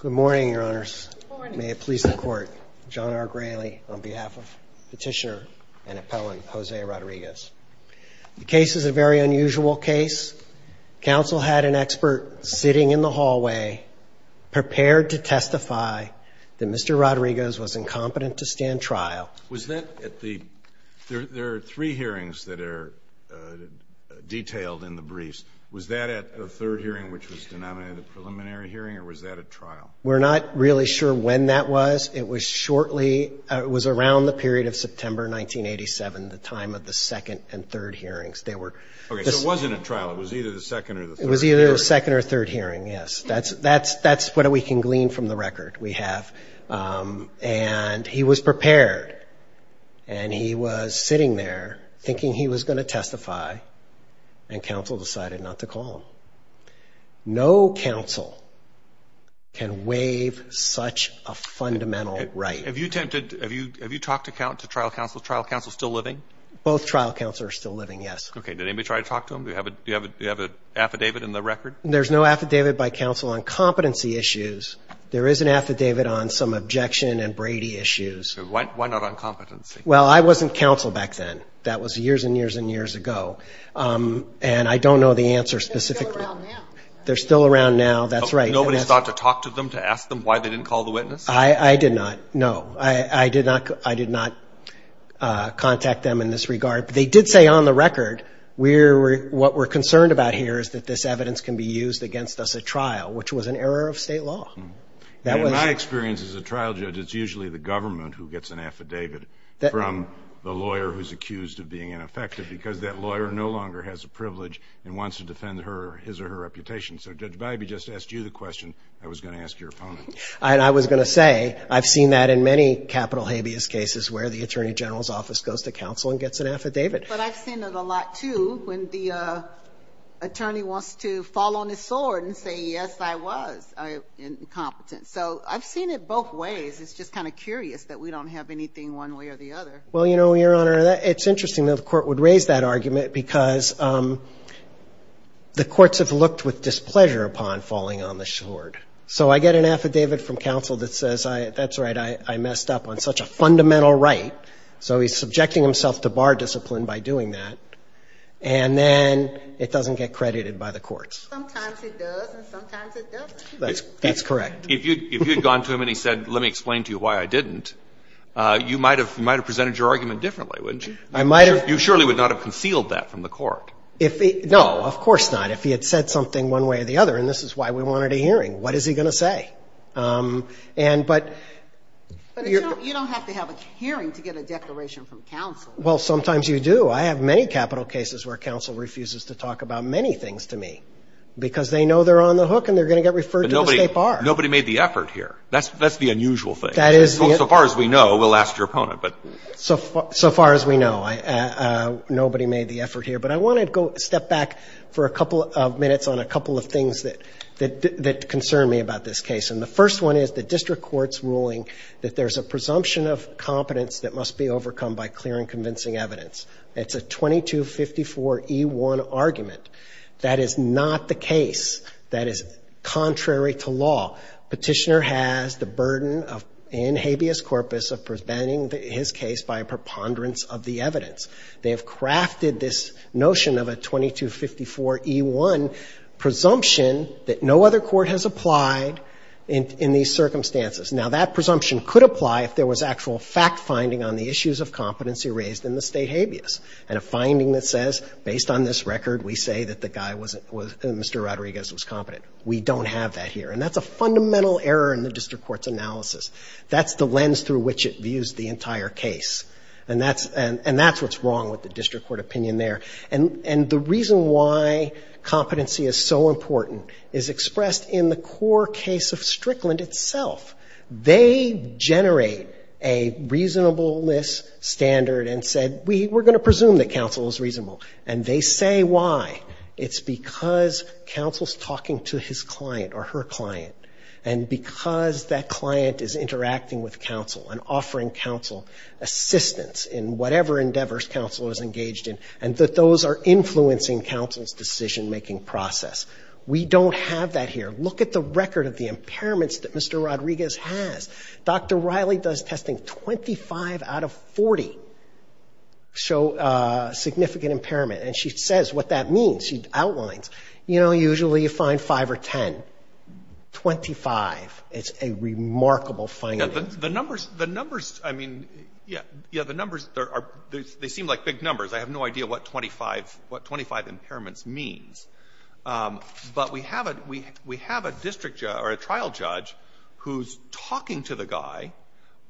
Good morning, your honors. May it please the court. John R. Grayley on behalf of petitioner and appellant Jose Rodriguez. The case is a very unusual case. Council had an expert sitting in the hallway prepared to testify that Mr. Rodriguez was incompetent to stand trial. Was that at the, there are three hearings that are detailed in the briefs. Was that at the third hearing, which was denominated a preliminary hearing, or was that at trial? We're not really sure when that was. It was shortly, it was around the period of September 1987, the time of the second and third hearings. Okay, so it wasn't at trial. It was either the second or the third. It was either the second or third hearing, yes. That's what we can glean from the record we have. And he was prepared, and he was sitting there thinking he was going to testify, and counsel decided not to call him. No counsel can waive such a fundamental right. Have you talked to trial counsel? Is trial counsel still living? Both trial counsel are still living, yes. Okay, did anybody try to talk to him? Do you have an affidavit in the record? There's no affidavit by counsel on competency issues. There is an affidavit on some objection and Brady issues. Why not on competency? Well, I wasn't counsel back then. That was years and years and years ago. And I don't know the answer specifically. They're still around now. They're still around now, that's right. Nobody's thought to talk to them, to ask them why they didn't call the witness? I did not, no. I did not contact them in this regard. They did say on the record what we're concerned about here is that this evidence can be used against us at trial, which was an error of State law. In my experience as a trial judge, it's usually the government who gets an affidavit from the lawyer who's accused of being ineffective because that lawyer no longer has a privilege and wants to defend her or his or her reputation. So Judge Biby just asked you the question, I was going to ask your opponent. And I was going to say, I've seen that in many capital habeas cases where the Attorney General's office goes to counsel and gets an affidavit. But I've seen it a lot, too, when the attorney wants to fall on his sword and say, yes, I was incompetent. So I've seen it both ways. It's just kind of curious that we don't have anything one way or the other. Well, you know, Your Honor, it's interesting that the Court would raise that argument because the courts have looked with displeasure upon falling on the sword. So I get an affidavit from counsel that says, that's right, I messed up on such a fundamental right. So he's subjecting himself to bar discipline by doing that. And then it doesn't get credited by the courts. Sometimes it does and sometimes it doesn't. That's correct. If you had gone to him and he said, let me explain to you why I didn't, you might have presented your argument differently, wouldn't you? I might have. You surely would not have concealed that from the court. No, of course not. If he had said something one way or the other, and this is why we wanted a hearing, what is he going to say? But you don't have to have a hearing to get a declaration from counsel. Well, sometimes you do. I have many capital cases where counsel refuses to talk about many things to me because they know they're on the hook and they're going to get referred to the State Bar. But nobody made the effort here. That's the unusual thing. That is the unusual thing. So far as we know, we'll ask your opponent. So far as we know, nobody made the effort here. But I want to step back for a couple of minutes on a couple of things that concern me about this case. And the first one is the district court's ruling that there's a presumption of competence that must be overcome by clear and convincing evidence. It's a 2254E1 argument. That is not the case. That is contrary to law. Petitioner has the burden in habeas corpus of preventing his case by a preponderance of the evidence. They have crafted this notion of a 2254E1 presumption that no other court has applied in these circumstances. Now, that presumption could apply if there was actual fact-finding on the issues of competency raised in the State habeas. And a finding that says, based on this record, we say that the guy was Mr. Rodriguez was competent. We don't have that here. And that's a fundamental error in the district court's analysis. That's the lens through which it views the entire case. And that's what's wrong with the district court opinion there. And the reason why competency is so important is expressed in the core case of Strickland itself. They generate a reasonableness standard and said, we're going to presume that counsel is reasonable. And they say why. It's because counsel is talking to his client or her client, and because that client is interacting with counsel and offering counsel assistance in whatever endeavors counsel is engaged in, and that those are influencing counsel's decision-making process. We don't have that here. Look at the record of the impairments that Mr. Rodriguez has. Dr. Riley does testing. Twenty-five out of 40 show significant impairment. And she says what that means. She outlines. You know, usually you find 5 or 10. Twenty-five is a remarkable finding. The numbers, the numbers, I mean, yeah, the numbers, they seem like big numbers. I have no idea what 25 impairments means. But we have a district judge or a trial judge who's talking to the guy.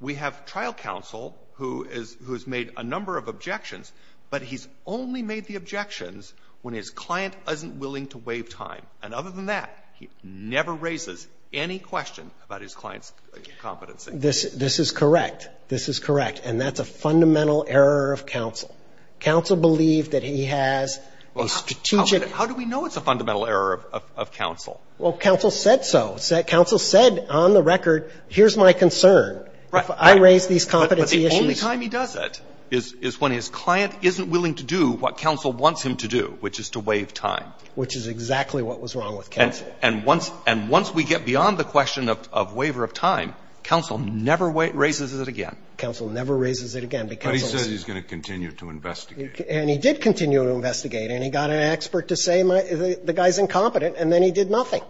We have trial counsel who has made a number of objections. But he's only made the objections when his client isn't willing to waive time. And other than that, he never raises any question about his client's competency. This is correct. This is correct. And that's a fundamental error of counsel. Counsel believed that he has a strategic How do we know it's a fundamental error of counsel? Well, counsel said so. Counsel said on the record, here's my concern. Right. If I raise these competency issues. But the only time he does it is when his client isn't willing to do what counsel wants him to do, which is to waive time. Which is exactly what was wrong with counsel. And once we get beyond the question of waiver of time, counsel never raises it again. Counsel never raises it again. But he says he's going to continue to investigate. And he did continue to investigate. And he got an expert to say the guy's incompetent, and then he did nothing.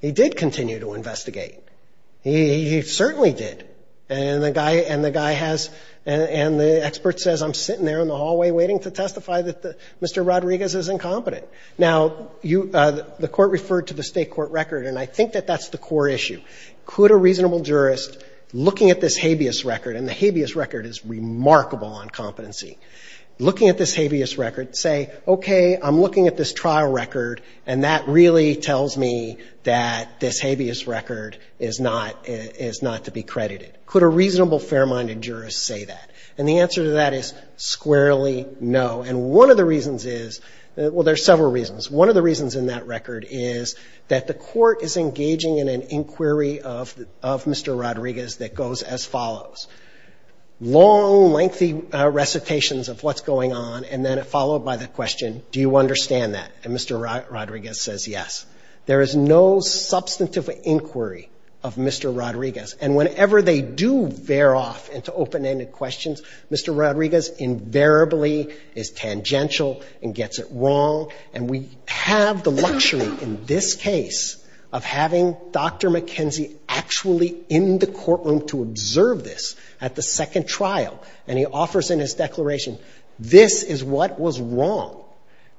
He did continue to investigate. He certainly did. And the guy has and the expert says I'm sitting there in the hallway waiting to testify that Mr. Rodriguez is incompetent. Now, the Court referred to the State court record, and I think that that's the core question. Could a reasonable jurist, looking at this habeas record, and the habeas record is remarkable on competency. Looking at this habeas record, say, okay, I'm looking at this trial record, and that really tells me that this habeas record is not to be credited. Could a reasonable, fair-minded jurist say that? And the answer to that is squarely no. And one of the reasons is, well, there's several reasons. One of the reasons in that record is that the Court is engaging in an inquiry of Mr. Rodriguez that goes as follows. Long, lengthy recitations of what's going on, and then followed by the question, do you understand that? And Mr. Rodriguez says yes. There is no substantive inquiry of Mr. Rodriguez. And whenever they do veer off into open-ended questions, Mr. Rodriguez invariably is tangential and gets it wrong. And we have the luxury in this case of having Dr. McKenzie actually in the courtroom to observe this at the second trial. And he offers in his declaration, this is what was wrong.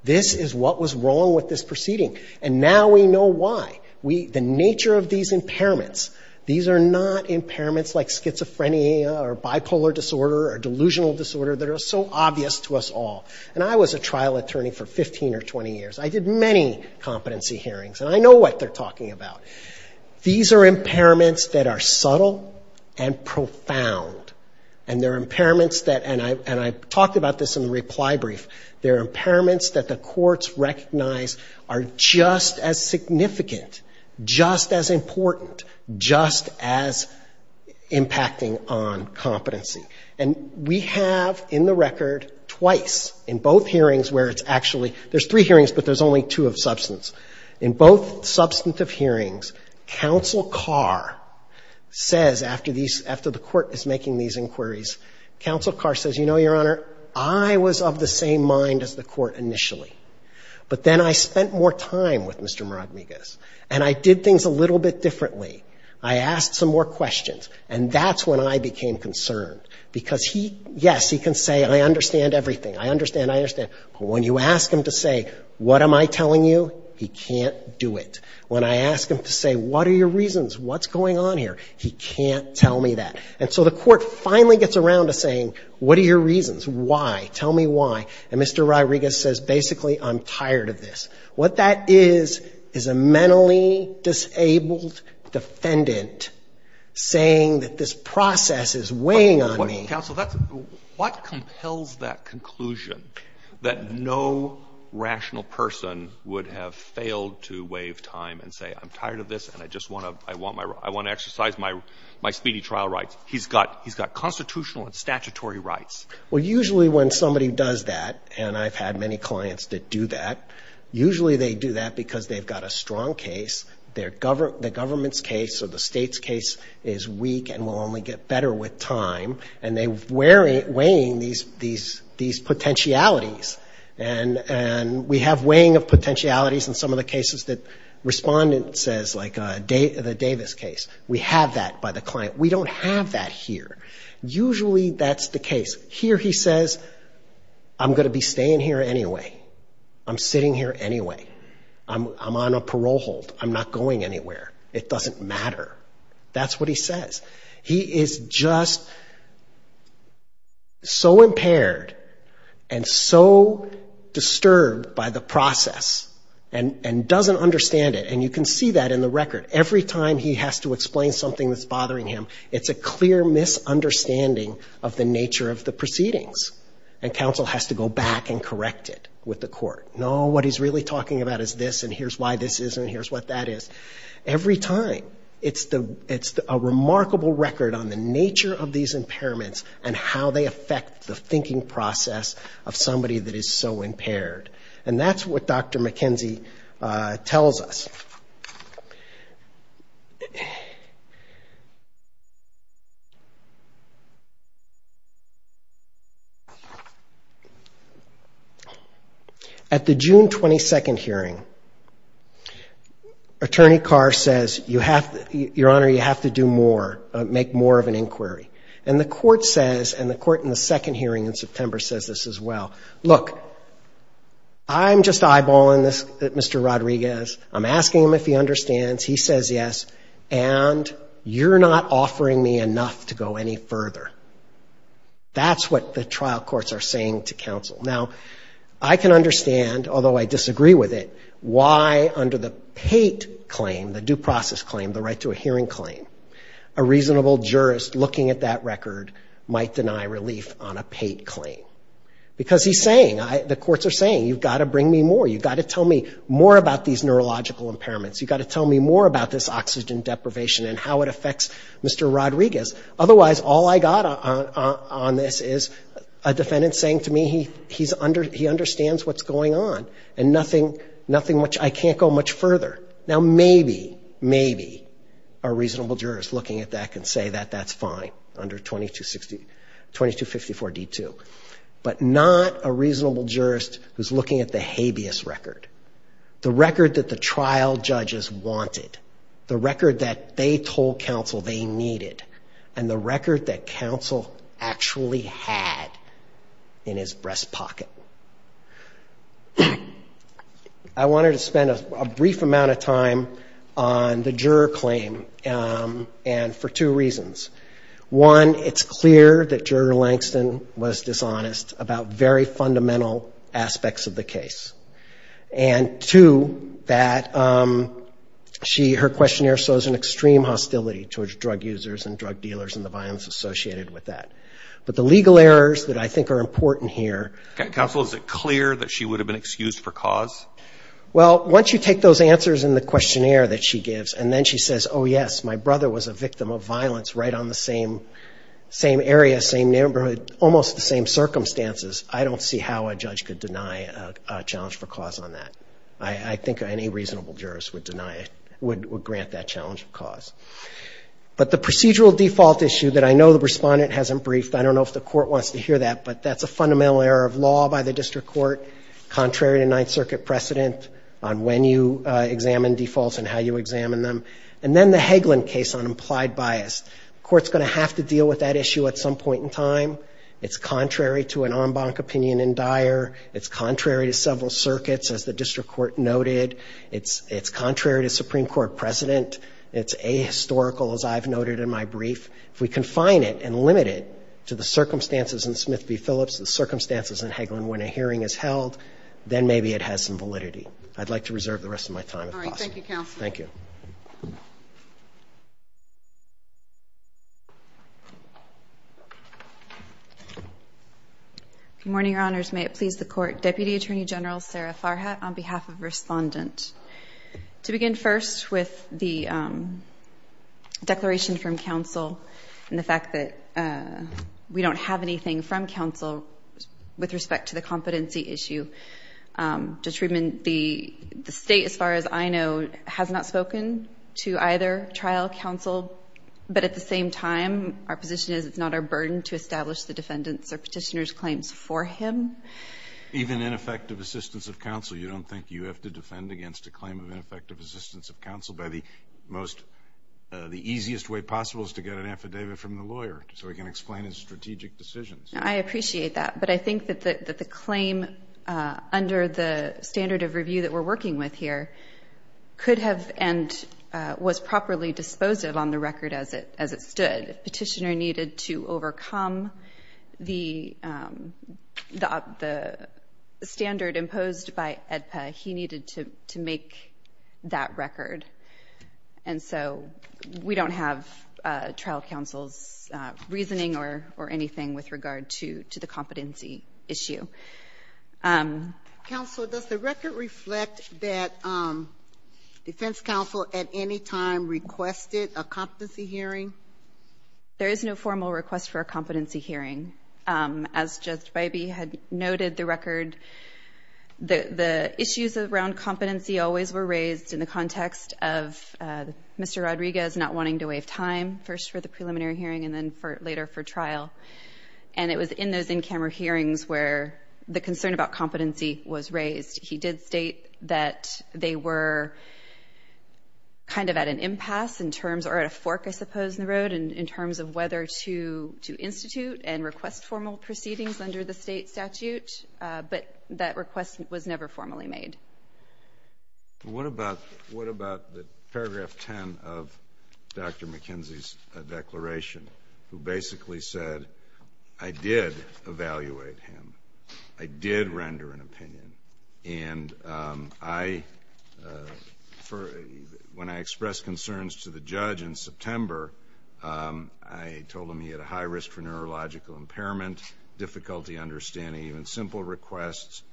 This is what was wrong with this proceeding. And now we know why. The nature of these impairments, these are not impairments like schizophrenia or bipolar disorder or delusional disorder that are so obvious to us all. And I was a trial attorney for 15 or 20 years. I did many competency hearings, and I know what they're talking about. These are impairments that are subtle and profound. And they're impairments that, and I talked about this in the reply brief, they're impairments that the courts recognize are just as significant, just as important, just as impacting on competency. And we have, in the record, twice, in both hearings where it's actually, there's three hearings, but there's only two of substance. In both substantive hearings, counsel Carr says after these, after the court is making these inquiries, counsel Carr says, you know, Your Honor, I was of the same mind as the court initially, but then I spent more time with Mr. I asked some more questions, and that's when I became concerned. Because he, yes, he can say, I understand everything, I understand, I understand. But when you ask him to say, what am I telling you, he can't do it. When I ask him to say, what are your reasons, what's going on here, he can't tell me that. And so the court finally gets around to saying, what are your reasons, why, tell me why. And Mr. Ryriguez says, basically, I'm tired of this. What that is, is a mentally disabled defendant saying that this process is weighing on me. But, counsel, that's, what compels that conclusion, that no rational person would have failed to waive time and say, I'm tired of this and I just want to, I want my, I want to exercise my speedy trial rights? He's got, he's got constitutional and statutory rights. Well, usually when somebody does that, and I've had many clients that do that, usually they do that because they've got a strong case, the government's case or the state's case is weak and will only get better with time. And they're weighing these potentialities. And we have weighing of potentialities in some of the cases that respondent says, like the Davis case. We have that by the client. We don't have that here. Usually that's the case. Here he says, I'm going to be staying here anyway. I'm sitting here anyway. I'm on a parole hold. I'm not going anywhere. It doesn't matter. That's what he says. He is just so impaired and so disturbed by the process and doesn't understand it. And you can see that in the record. Every time he has to explain something that's bothering him, it's a clear misunderstanding of the nature of the proceedings. And counsel has to go back and correct it with the court. No, what he's really talking about is this, and here's why this is, and here's what that is. Every time. It's a remarkable record on the nature of these impairments and how they affect the thinking process of somebody that is so impaired. And that's what Dr. McKenzie tells us. At the June 22nd hearing, Attorney Carr says, Your Honor, you have to do more, make more of an inquiry. And the court says, and the court in the second hearing in September says this as well, Look, I'm just eyeballing this Mr. Rodriguez. I'm asking him if he understands. He says yes, and you're not offering me enough to go any further. That's what the trial courts are saying to counsel. Now, I can understand, although I disagree with it, why under the Pate claim, the due process claim, the right to a hearing claim, a reasonable jurist looking at that record might deny relief on a Pate claim. Because he's saying, the courts are saying, you've got to bring me more. You've got to tell me more about these neurological impairments. You've got to tell me more about this oxygen deprivation and how it affects Mr. Rodriguez. Otherwise, all I got on this is a defendant saying to me he understands what's going on, and I can't go much further. Now, maybe, maybe a reasonable jurist looking at that can say that that's fine under 2254 D2. But not a reasonable jurist who's looking at the habeas record, the record that the trial judges wanted, the record that they told counsel they needed, and the record that counsel actually had in his breast pocket. I wanted to spend a brief amount of time on the juror claim, and for two reasons. One, it's clear that Juror Langston was dishonest about very fundamental aspects of the case. And two, that she, her questionnaire shows an extreme hostility towards drug users and drug dealers and the violence associated with that. But the legal errors that I think are important here. Counsel, is it clear that she would have been excused for cause? Well, once you take those answers in the questionnaire that she gives, and then she says, oh, yes, my brother was a victim of violence right on the same area, same neighborhood, almost the same circumstances. I don't see how a judge could deny a challenge for cause on that. I think any reasonable jurist would deny it, would grant that challenge for cause. But the procedural default issue that I know the respondent hasn't briefed, I don't know if the court wants to hear that, but that's a fundamental error of law by the district court, contrary to Ninth Circuit precedent on when you examine defaults and how you examine them. And then the Hagelin case on implied bias. The court's going to have to deal with that issue at some point in time. It's contrary to an en banc opinion in Dyer. It's contrary to several circuits, as the district court noted. It's contrary to Supreme Court precedent. It's ahistorical, as I've noted in my brief. If we confine it and limit it to the circumstances in Smith v. Phillips, the circumstances in Hagelin when a hearing is held, then maybe it has some validity. I'd like to reserve the rest of my time, if possible. All right. Thank you, Counsel. Thank you. Good morning, Your Honors. May it please the Court. Deputy Attorney General Sarah Farhat on behalf of the respondent. To begin first with the declaration from counsel and the fact that we don't have anything from counsel with respect to the competency issue. Judge Friedman, the State, as far as I know, has not spoken to either trial, counsel. But at the same time, our position is it's not our burden to establish the defendant's or petitioner's claims for him. Even ineffective assistance of counsel. You don't think you have to defend against a claim of ineffective assistance of counsel by the easiest way possible is to get an affidavit from the lawyer so he can explain his strategic decisions. I appreciate that. But I think that the claim under the standard of review that we're working with here could have and was properly disposed of on the record as it stood. Petitioner needed to overcome the standard imposed by AEDPA. He needed to make that record. And so we don't have trial counsel's reasoning or anything with regard to the competency issue. Counsel, does the record reflect that defense counsel at any time requested a competency hearing? There is no formal request for a competency hearing. As Judge Bybee had noted, the record, the issues around competency always were raised in the context of Mr. Rodriguez not wanting to waive time, first for the preliminary hearing and then later for trial. And it was in those in-camera hearings where the concern about competency was raised. He did state that they were kind of at an impasse or at a fork, I suppose, in the road to institute and request formal proceedings under the state statute. But that request was never formally made. What about the paragraph 10 of Dr. McKenzie's declaration, who basically said, I did evaluate him. I did render an opinion. And when I expressed concerns to the judge in September, I told him he had a high risk for neurological impairment, difficulty understanding even simple requests.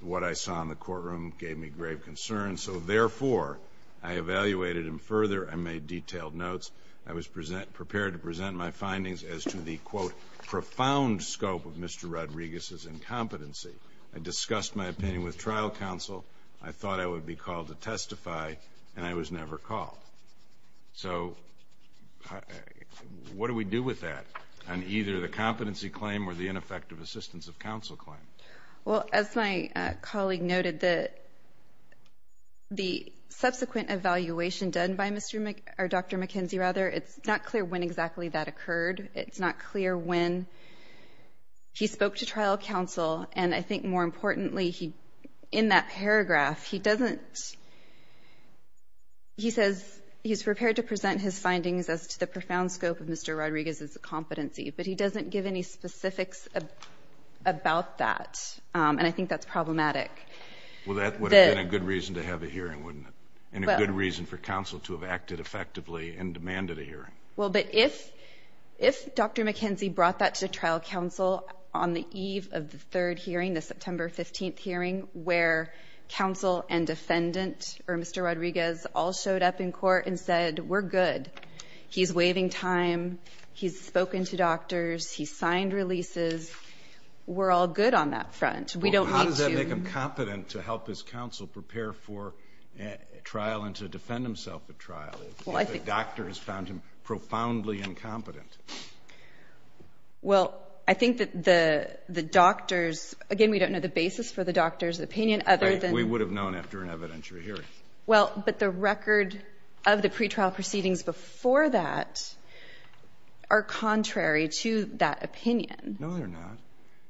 What I saw in the courtroom gave me grave concern. So, therefore, I evaluated him further and made detailed notes. I was prepared to present my findings as to the, quote, profound scope of Mr. Rodriguez's incompetency. I discussed my opinion with trial counsel. I thought I would be called to testify, and I was never called. So what do we do with that on either the competency claim or the ineffective assistance of counsel claim? Well, as my colleague noted, the subsequent evaluation done by Dr. McKenzie, it's not clear when exactly that occurred. It's not clear when he spoke to trial counsel. And I think more importantly, in that paragraph, he doesn't he says he's prepared to present his findings as to the profound scope of Mr. Rodriguez's incompetency, but he doesn't give any specifics about that, and I think that's problematic. Well, that would have been a good reason to have a hearing, wouldn't it, and a good reason for counsel to have acted effectively and demanded a hearing. Well, but if Dr. McKenzie brought that to trial counsel on the eve of the third hearing, the September 15th hearing, where counsel and defendant, or Mr. Rodriguez, all showed up in court and said, we're good, he's waiving time, he's spoken to doctors, he's signed releases, we're all good on that front. We don't need to. Well, how does that make him competent to help his counsel prepare for trial and to defend himself at trial? The doctor has found him profoundly incompetent. Well, I think that the doctors, again, we don't know the basis for the doctor's opinion, other than we would have known after an evidentiary hearing. Well, but the record of the pretrial proceedings before that are contrary to that opinion. No, they're not.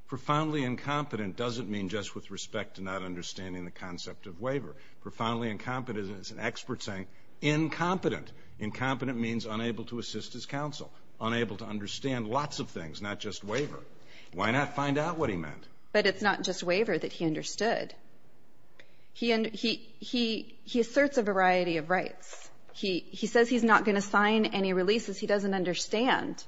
Profoundly incompetent doesn't mean just with respect to not understanding the concept of waiver. Profoundly incompetent is an expert saying incompetent. Incompetent means unable to assist his counsel, unable to understand lots of things, not just waiver. Why not find out what he meant? But it's not just waiver that he understood. He asserts a variety of rights. He says he's not going to sign any releases. He doesn't understand.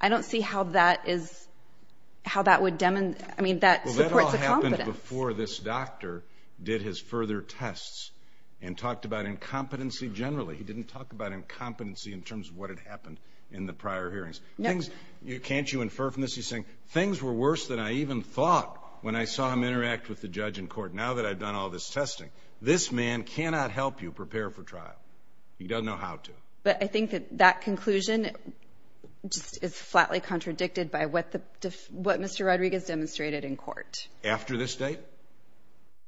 I don't see how that would demonstrate. Well, that all happened before this doctor did his further tests and talked about incompetency generally. He didn't talk about incompetency in terms of what had happened in the prior hearings. Can't you infer from this? He's saying, things were worse than I even thought when I saw him interact with the judge in court. Now that I've done all this testing, this man cannot help you prepare for trial. He doesn't know how to. But I think that that conclusion is flatly contradicted by what Mr. Rodriguez demonstrated in court. After this date?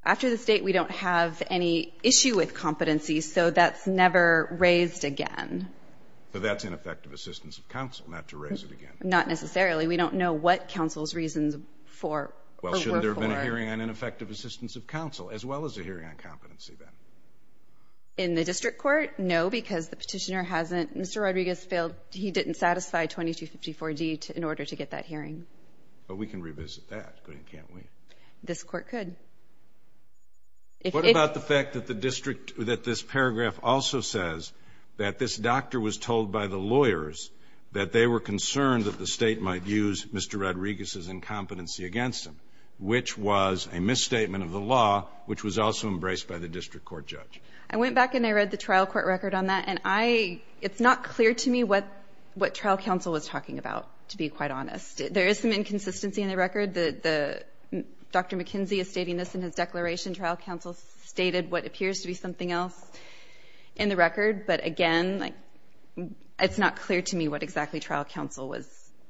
After this date, we don't have any issue with competency, so that's never raised again. So that's ineffective assistance of counsel not to raise it again. Not necessarily. We don't know what counsel's reasons for or were for. Well, shouldn't there have been a hearing on ineffective assistance of counsel as well as a hearing on competency then? In the district court? No, because the petitioner hasn't. Mr. Rodriguez failed. He didn't satisfy 2254D in order to get that hearing. But we can revisit that, couldn't we? This Court could. What about the fact that the district, that this paragraph also says that this doctor was told by the lawyers that they were concerned that the State might use Mr. Rodriguez's incompetency against him, which was a misstatement of the law, which was also embraced by the district court judge? I went back and I read the trial court record on that, and it's not clear to me what trial counsel was talking about, to be quite honest. There is some inconsistency in the record. Dr. McKenzie is stating this in his declaration. Trial counsel stated what appears to be something else in the record. But, again, it's not clear to me what exactly trial counsel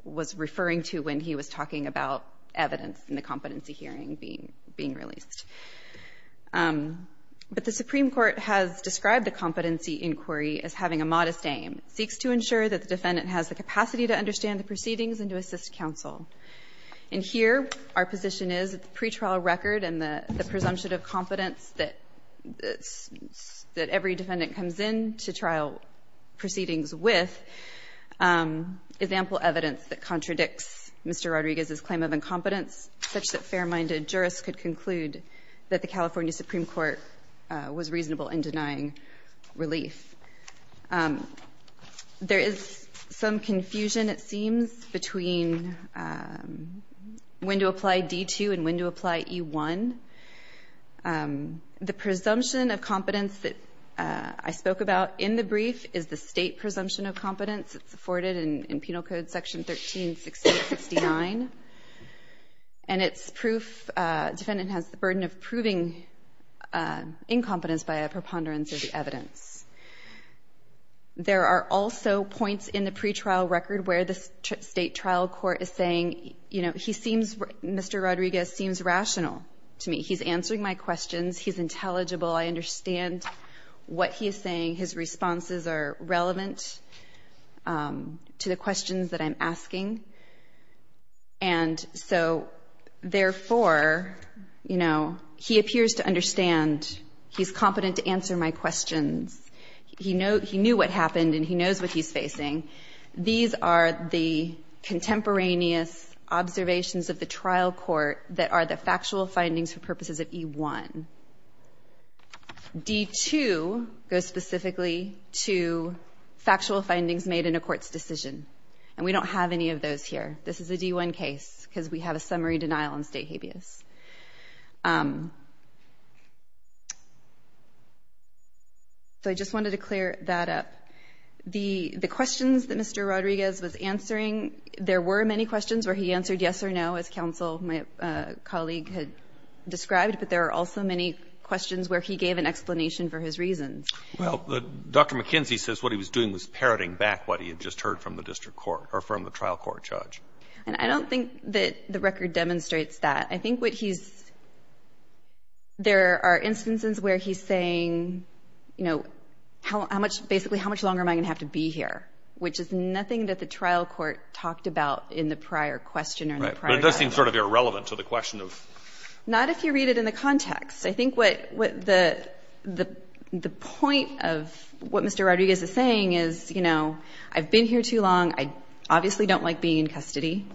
was referring to when he was talking about evidence in the competency hearing being released. But the Supreme Court has described the competency inquiry as having a modest aim. It seeks to ensure that the defendant has the capacity to understand the proceedings and to assist counsel. And here our position is that the pretrial record and the presumption of competence that every defendant comes in to trial proceedings with is ample evidence that contradicts Mr. Rodriguez's claim of incompetence, such that fair-minded jurists could conclude that the California Supreme Court was reasonable in denying relief. There is some confusion, it seems, between when to apply D-2 and when to apply E-1. The presumption of competence that I spoke about in the brief is the state presumption of competence. It's afforded in Penal Code Section 13-68-69. And it's proof defendant has the burden of proving incompetence by a preponderance of the evidence. There are also points in the pretrial record where the state trial court is saying, you know, he seems, Mr. Rodriguez seems rational to me. He's answering my questions. He's intelligible. I understand what he is saying. His responses are relevant to the questions that I'm asking. And so, therefore, you know, he appears to understand. He's competent to answer my questions. He knew what happened, and he knows what he's facing. These are the contemporaneous observations of the trial court that are the factual findings for purposes of E-1. D-2 goes specifically to factual findings made in a court's decision. And we don't have any of those here. This is a D-1 case because we have a summary denial on state habeas. So I just wanted to clear that up. The questions that Mr. Rodriguez was answering, there were many questions where he answered yes or no, as counsel, my colleague, had described. But there are also many questions where he gave an explanation for his reasons. Well, Dr. McKenzie says what he was doing was parroting back what he had just heard from the district court or from the trial court judge. And I don't think that the record demonstrates that. I think what he's – there are instances where he's saying, you know, how much – basically how much longer am I going to have to be here, which is nothing that the trial court talked about in the prior question or the prior judgment. But it does seem sort of irrelevant to the question of – Not if you read it in the context. I think what the point of what Mr. Rodriguez is saying is, you know, I've been here too long. I obviously don't like being in custody.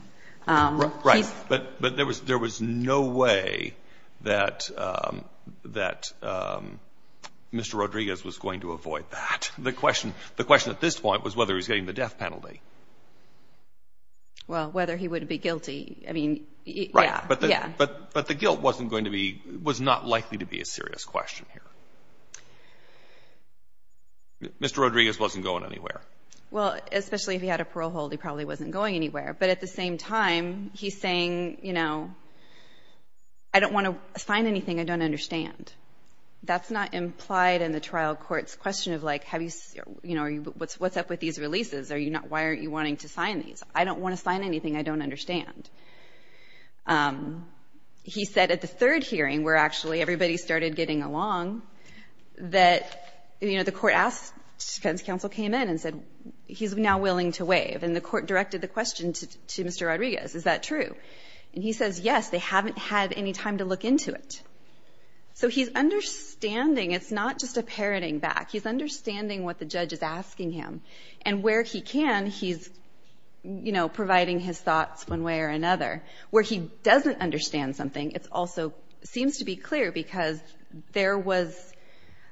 Right. But there was no way that Mr. Rodriguez was going to avoid that. The question at this point was whether he was getting the death penalty. Well, whether he would be guilty. I mean, yeah. Right. But the guilt wasn't going to be – was not likely to be a serious question here. Mr. Rodriguez wasn't going anywhere. Well, especially if he had a parole hold, he probably wasn't going anywhere. But at the same time, he's saying, you know, I don't want to sign anything I don't understand. That's not implied in the trial court's question of, like, have you – you know, what's up with these releases? Are you not – why aren't you wanting to sign these? I don't want to sign anything I don't understand. He said at the third hearing, where actually everybody started getting along, that, you know, the court asked – defense counsel came in and said he's now willing to waive. And the court directed the question to Mr. Rodriguez. Is that true? And he says, yes. They haven't had any time to look into it. So he's understanding. It's not just a parroting back. He's understanding what the judge is asking him. And where he can, he's, you know, providing his thoughts one way or another. Where he doesn't understand something, it also seems to be clear because there was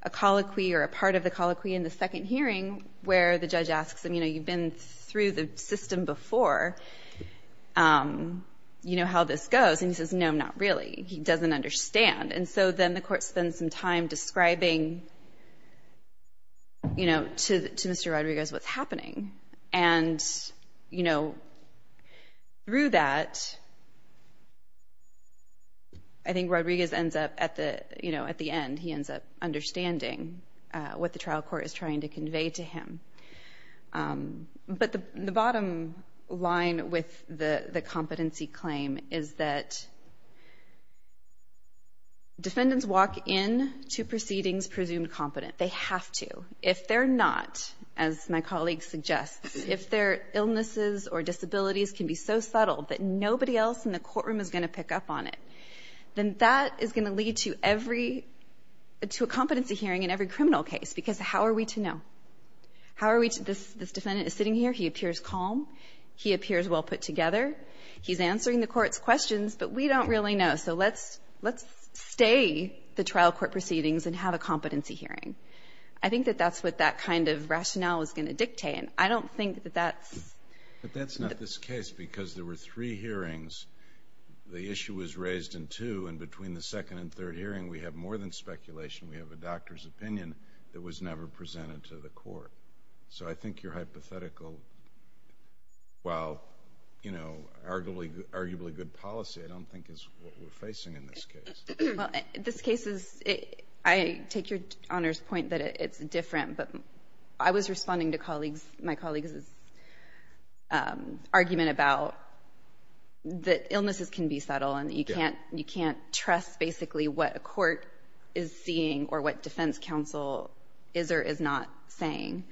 a colloquy or a part of the colloquy in the second hearing where the judge asks him, you know, through the system before, you know, how this goes. And he says, no, not really. He doesn't understand. And so then the court spends some time describing, you know, to Mr. Rodriguez what's happening. And, you know, through that, I think Rodriguez ends up at the, you know, at the end, he ends up understanding what the trial court is trying to convey to him. But the bottom line with the competency claim is that defendants walk into proceedings presumed competent. They have to. If they're not, as my colleague suggests, if their illnesses or disabilities can be so subtle that nobody else in the courtroom is going to pick up on it, then that is going to lead to every, to a competency hearing in every criminal case. Because how are we to know? How are we to, this defendant is sitting here. He appears calm. He appears well put together. He's answering the court's questions. But we don't really know. So let's stay the trial court proceedings and have a competency hearing. I think that that's what that kind of rationale is going to dictate. And I don't think that that's. But that's not this case because there were three hearings. The issue was raised in two. And between the second and third hearing, we have more than speculation. We have a doctor's opinion that was never presented to the court. So I think your hypothetical, while, you know, arguably good policy, I don't think is what we're facing in this case. Well, this case is, I take your Honor's point that it's different. But I was responding to colleagues, my colleagues' argument about that illnesses can be subtle. And you can't trust basically what a court is seeing or what defense counsel is or is not saying.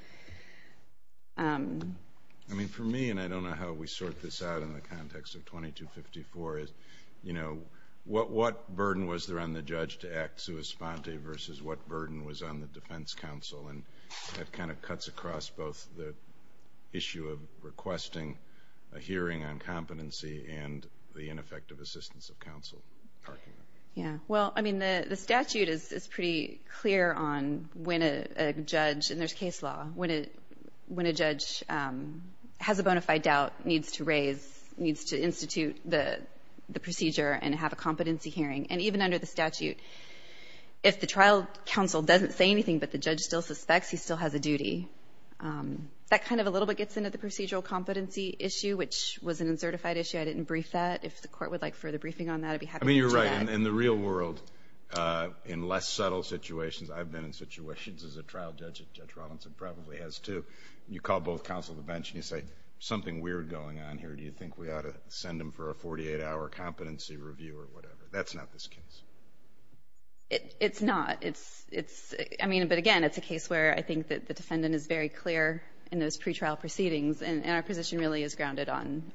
I mean, for me, and I don't know how we sort this out in the context of 2254 is, you know, what burden was there on the judge to act sua sponte versus what burden was on the defense counsel? And that kind of cuts across both the issue of requesting a hearing on competency and the ineffective assistance of counsel. Yeah. Well, I mean, the statute is pretty clear on when a judge, and there's case law, when a judge has a bona fide doubt, needs to raise, needs to institute the procedure and have a competency hearing. And even under the statute, if the trial counsel doesn't say anything but the judge still suspects, he still has a duty. That kind of a little bit gets into the procedural competency issue, which was an uncertified issue. I didn't brief that. If the court would like further briefing on that, I'd be happy to do that. I mean, you're right. In the real world, in less subtle situations, I've been in situations as a trial judge, and Judge Robinson probably has too, you call both counsel to the bench and you say, something weird going on here. Do you think we ought to send him for a 48-hour competency review or whatever? That's not this case. It's not. It's, I mean, but again, it's a case where I think that the defendant is very clear in those pretrial proceedings, and our position really is grounded on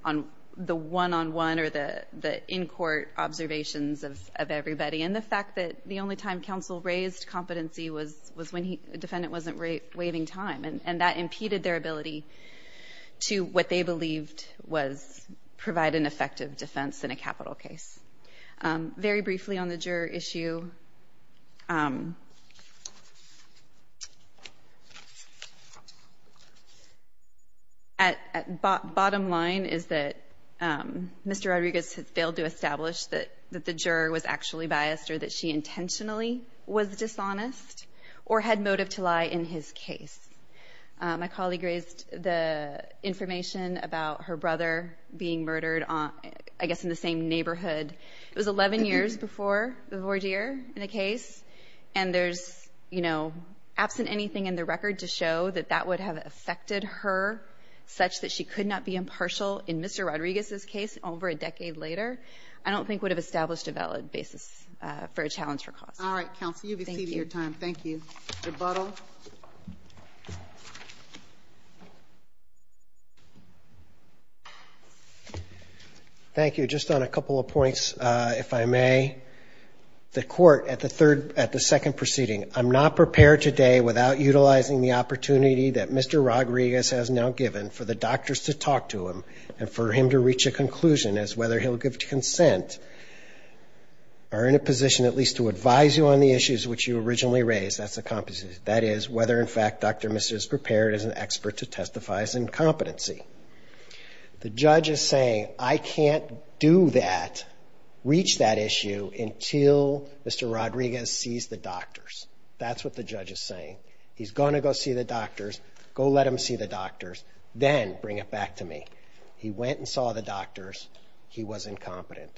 the one-on-one or the in-court observations of everybody. And the fact that the only time counsel raised competency was when the defendant wasn't waiving time, and that impeded their ability to what they believed was provide an effective defense in a capital case. Very briefly on the juror issue, bottom line is that Mr. Rodriguez failed to establish that the juror was actually biased or that she intentionally was dishonest or had motive to lie in his case. My colleague raised the information about her brother being murdered, I guess, in the same neighborhood. It was 11 years before the voir dire in the case, and there's, you know, absent anything in the record to show that that would have affected her such that she could not be impartial in Mr. Rodriguez's case over a decade later, I don't think would have established a valid basis for a challenge for cause. All right, counsel. You've exceeded your time. Thank you. Mr. Bottom. Thank you. Just on a couple of points, if I may. The court at the second proceeding, I'm not prepared today without utilizing the opportunity that Mr. Rodriguez has now given for the doctors to talk to him and for him to reach a conclusion as whether he'll give consent or in a position at least to advise you on the issues which you originally raised. That's a competency. That is, whether, in fact, Dr. Mr. is prepared as an expert to testify as incompetency. The judge is saying, I can't do that, reach that issue, until Mr. Rodriguez sees the doctors. That's what the judge is saying. He's going to go see the doctors. Go let him see the doctors. Then bring it back to me. He went and saw the doctors. He was incompetent.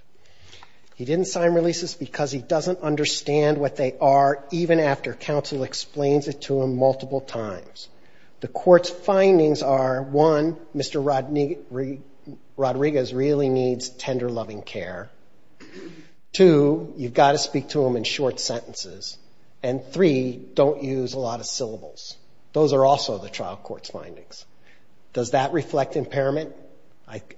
He didn't sign releases because he doesn't understand what they are, even after counsel explains it to him multiple times. The court's findings are, one, Mr. Rodriguez really needs tender, loving care. Two, you've got to speak to him in short sentences. And three, don't use a lot of syllables. Those are also the trial court's findings. Does that reflect impairment?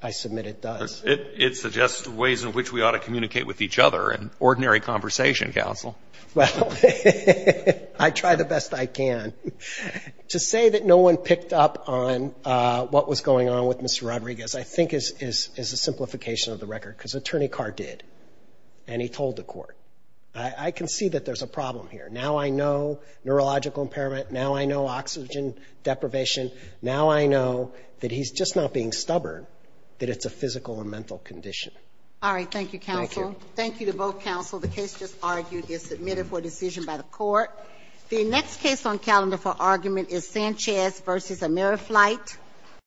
I submit it does. It suggests ways in which we ought to communicate with each other and ordinary conversation, counsel. Well, I try the best I can. To say that no one picked up on what was going on with Mr. Rodriguez, I think, is a simplification of the record because Attorney Carr did, and he told the court. I can see that there's a problem here. Now I know neurological impairment. Now I know oxygen deprivation. Now I know that he's just not being stubborn, that it's a physical or mental condition. All right. Thank you, counsel. Thank you. Thank you to both counsel. The case just argued is submitted for decision by the court. The next case on calendar for argument is Sanchez v. AmeriFlight.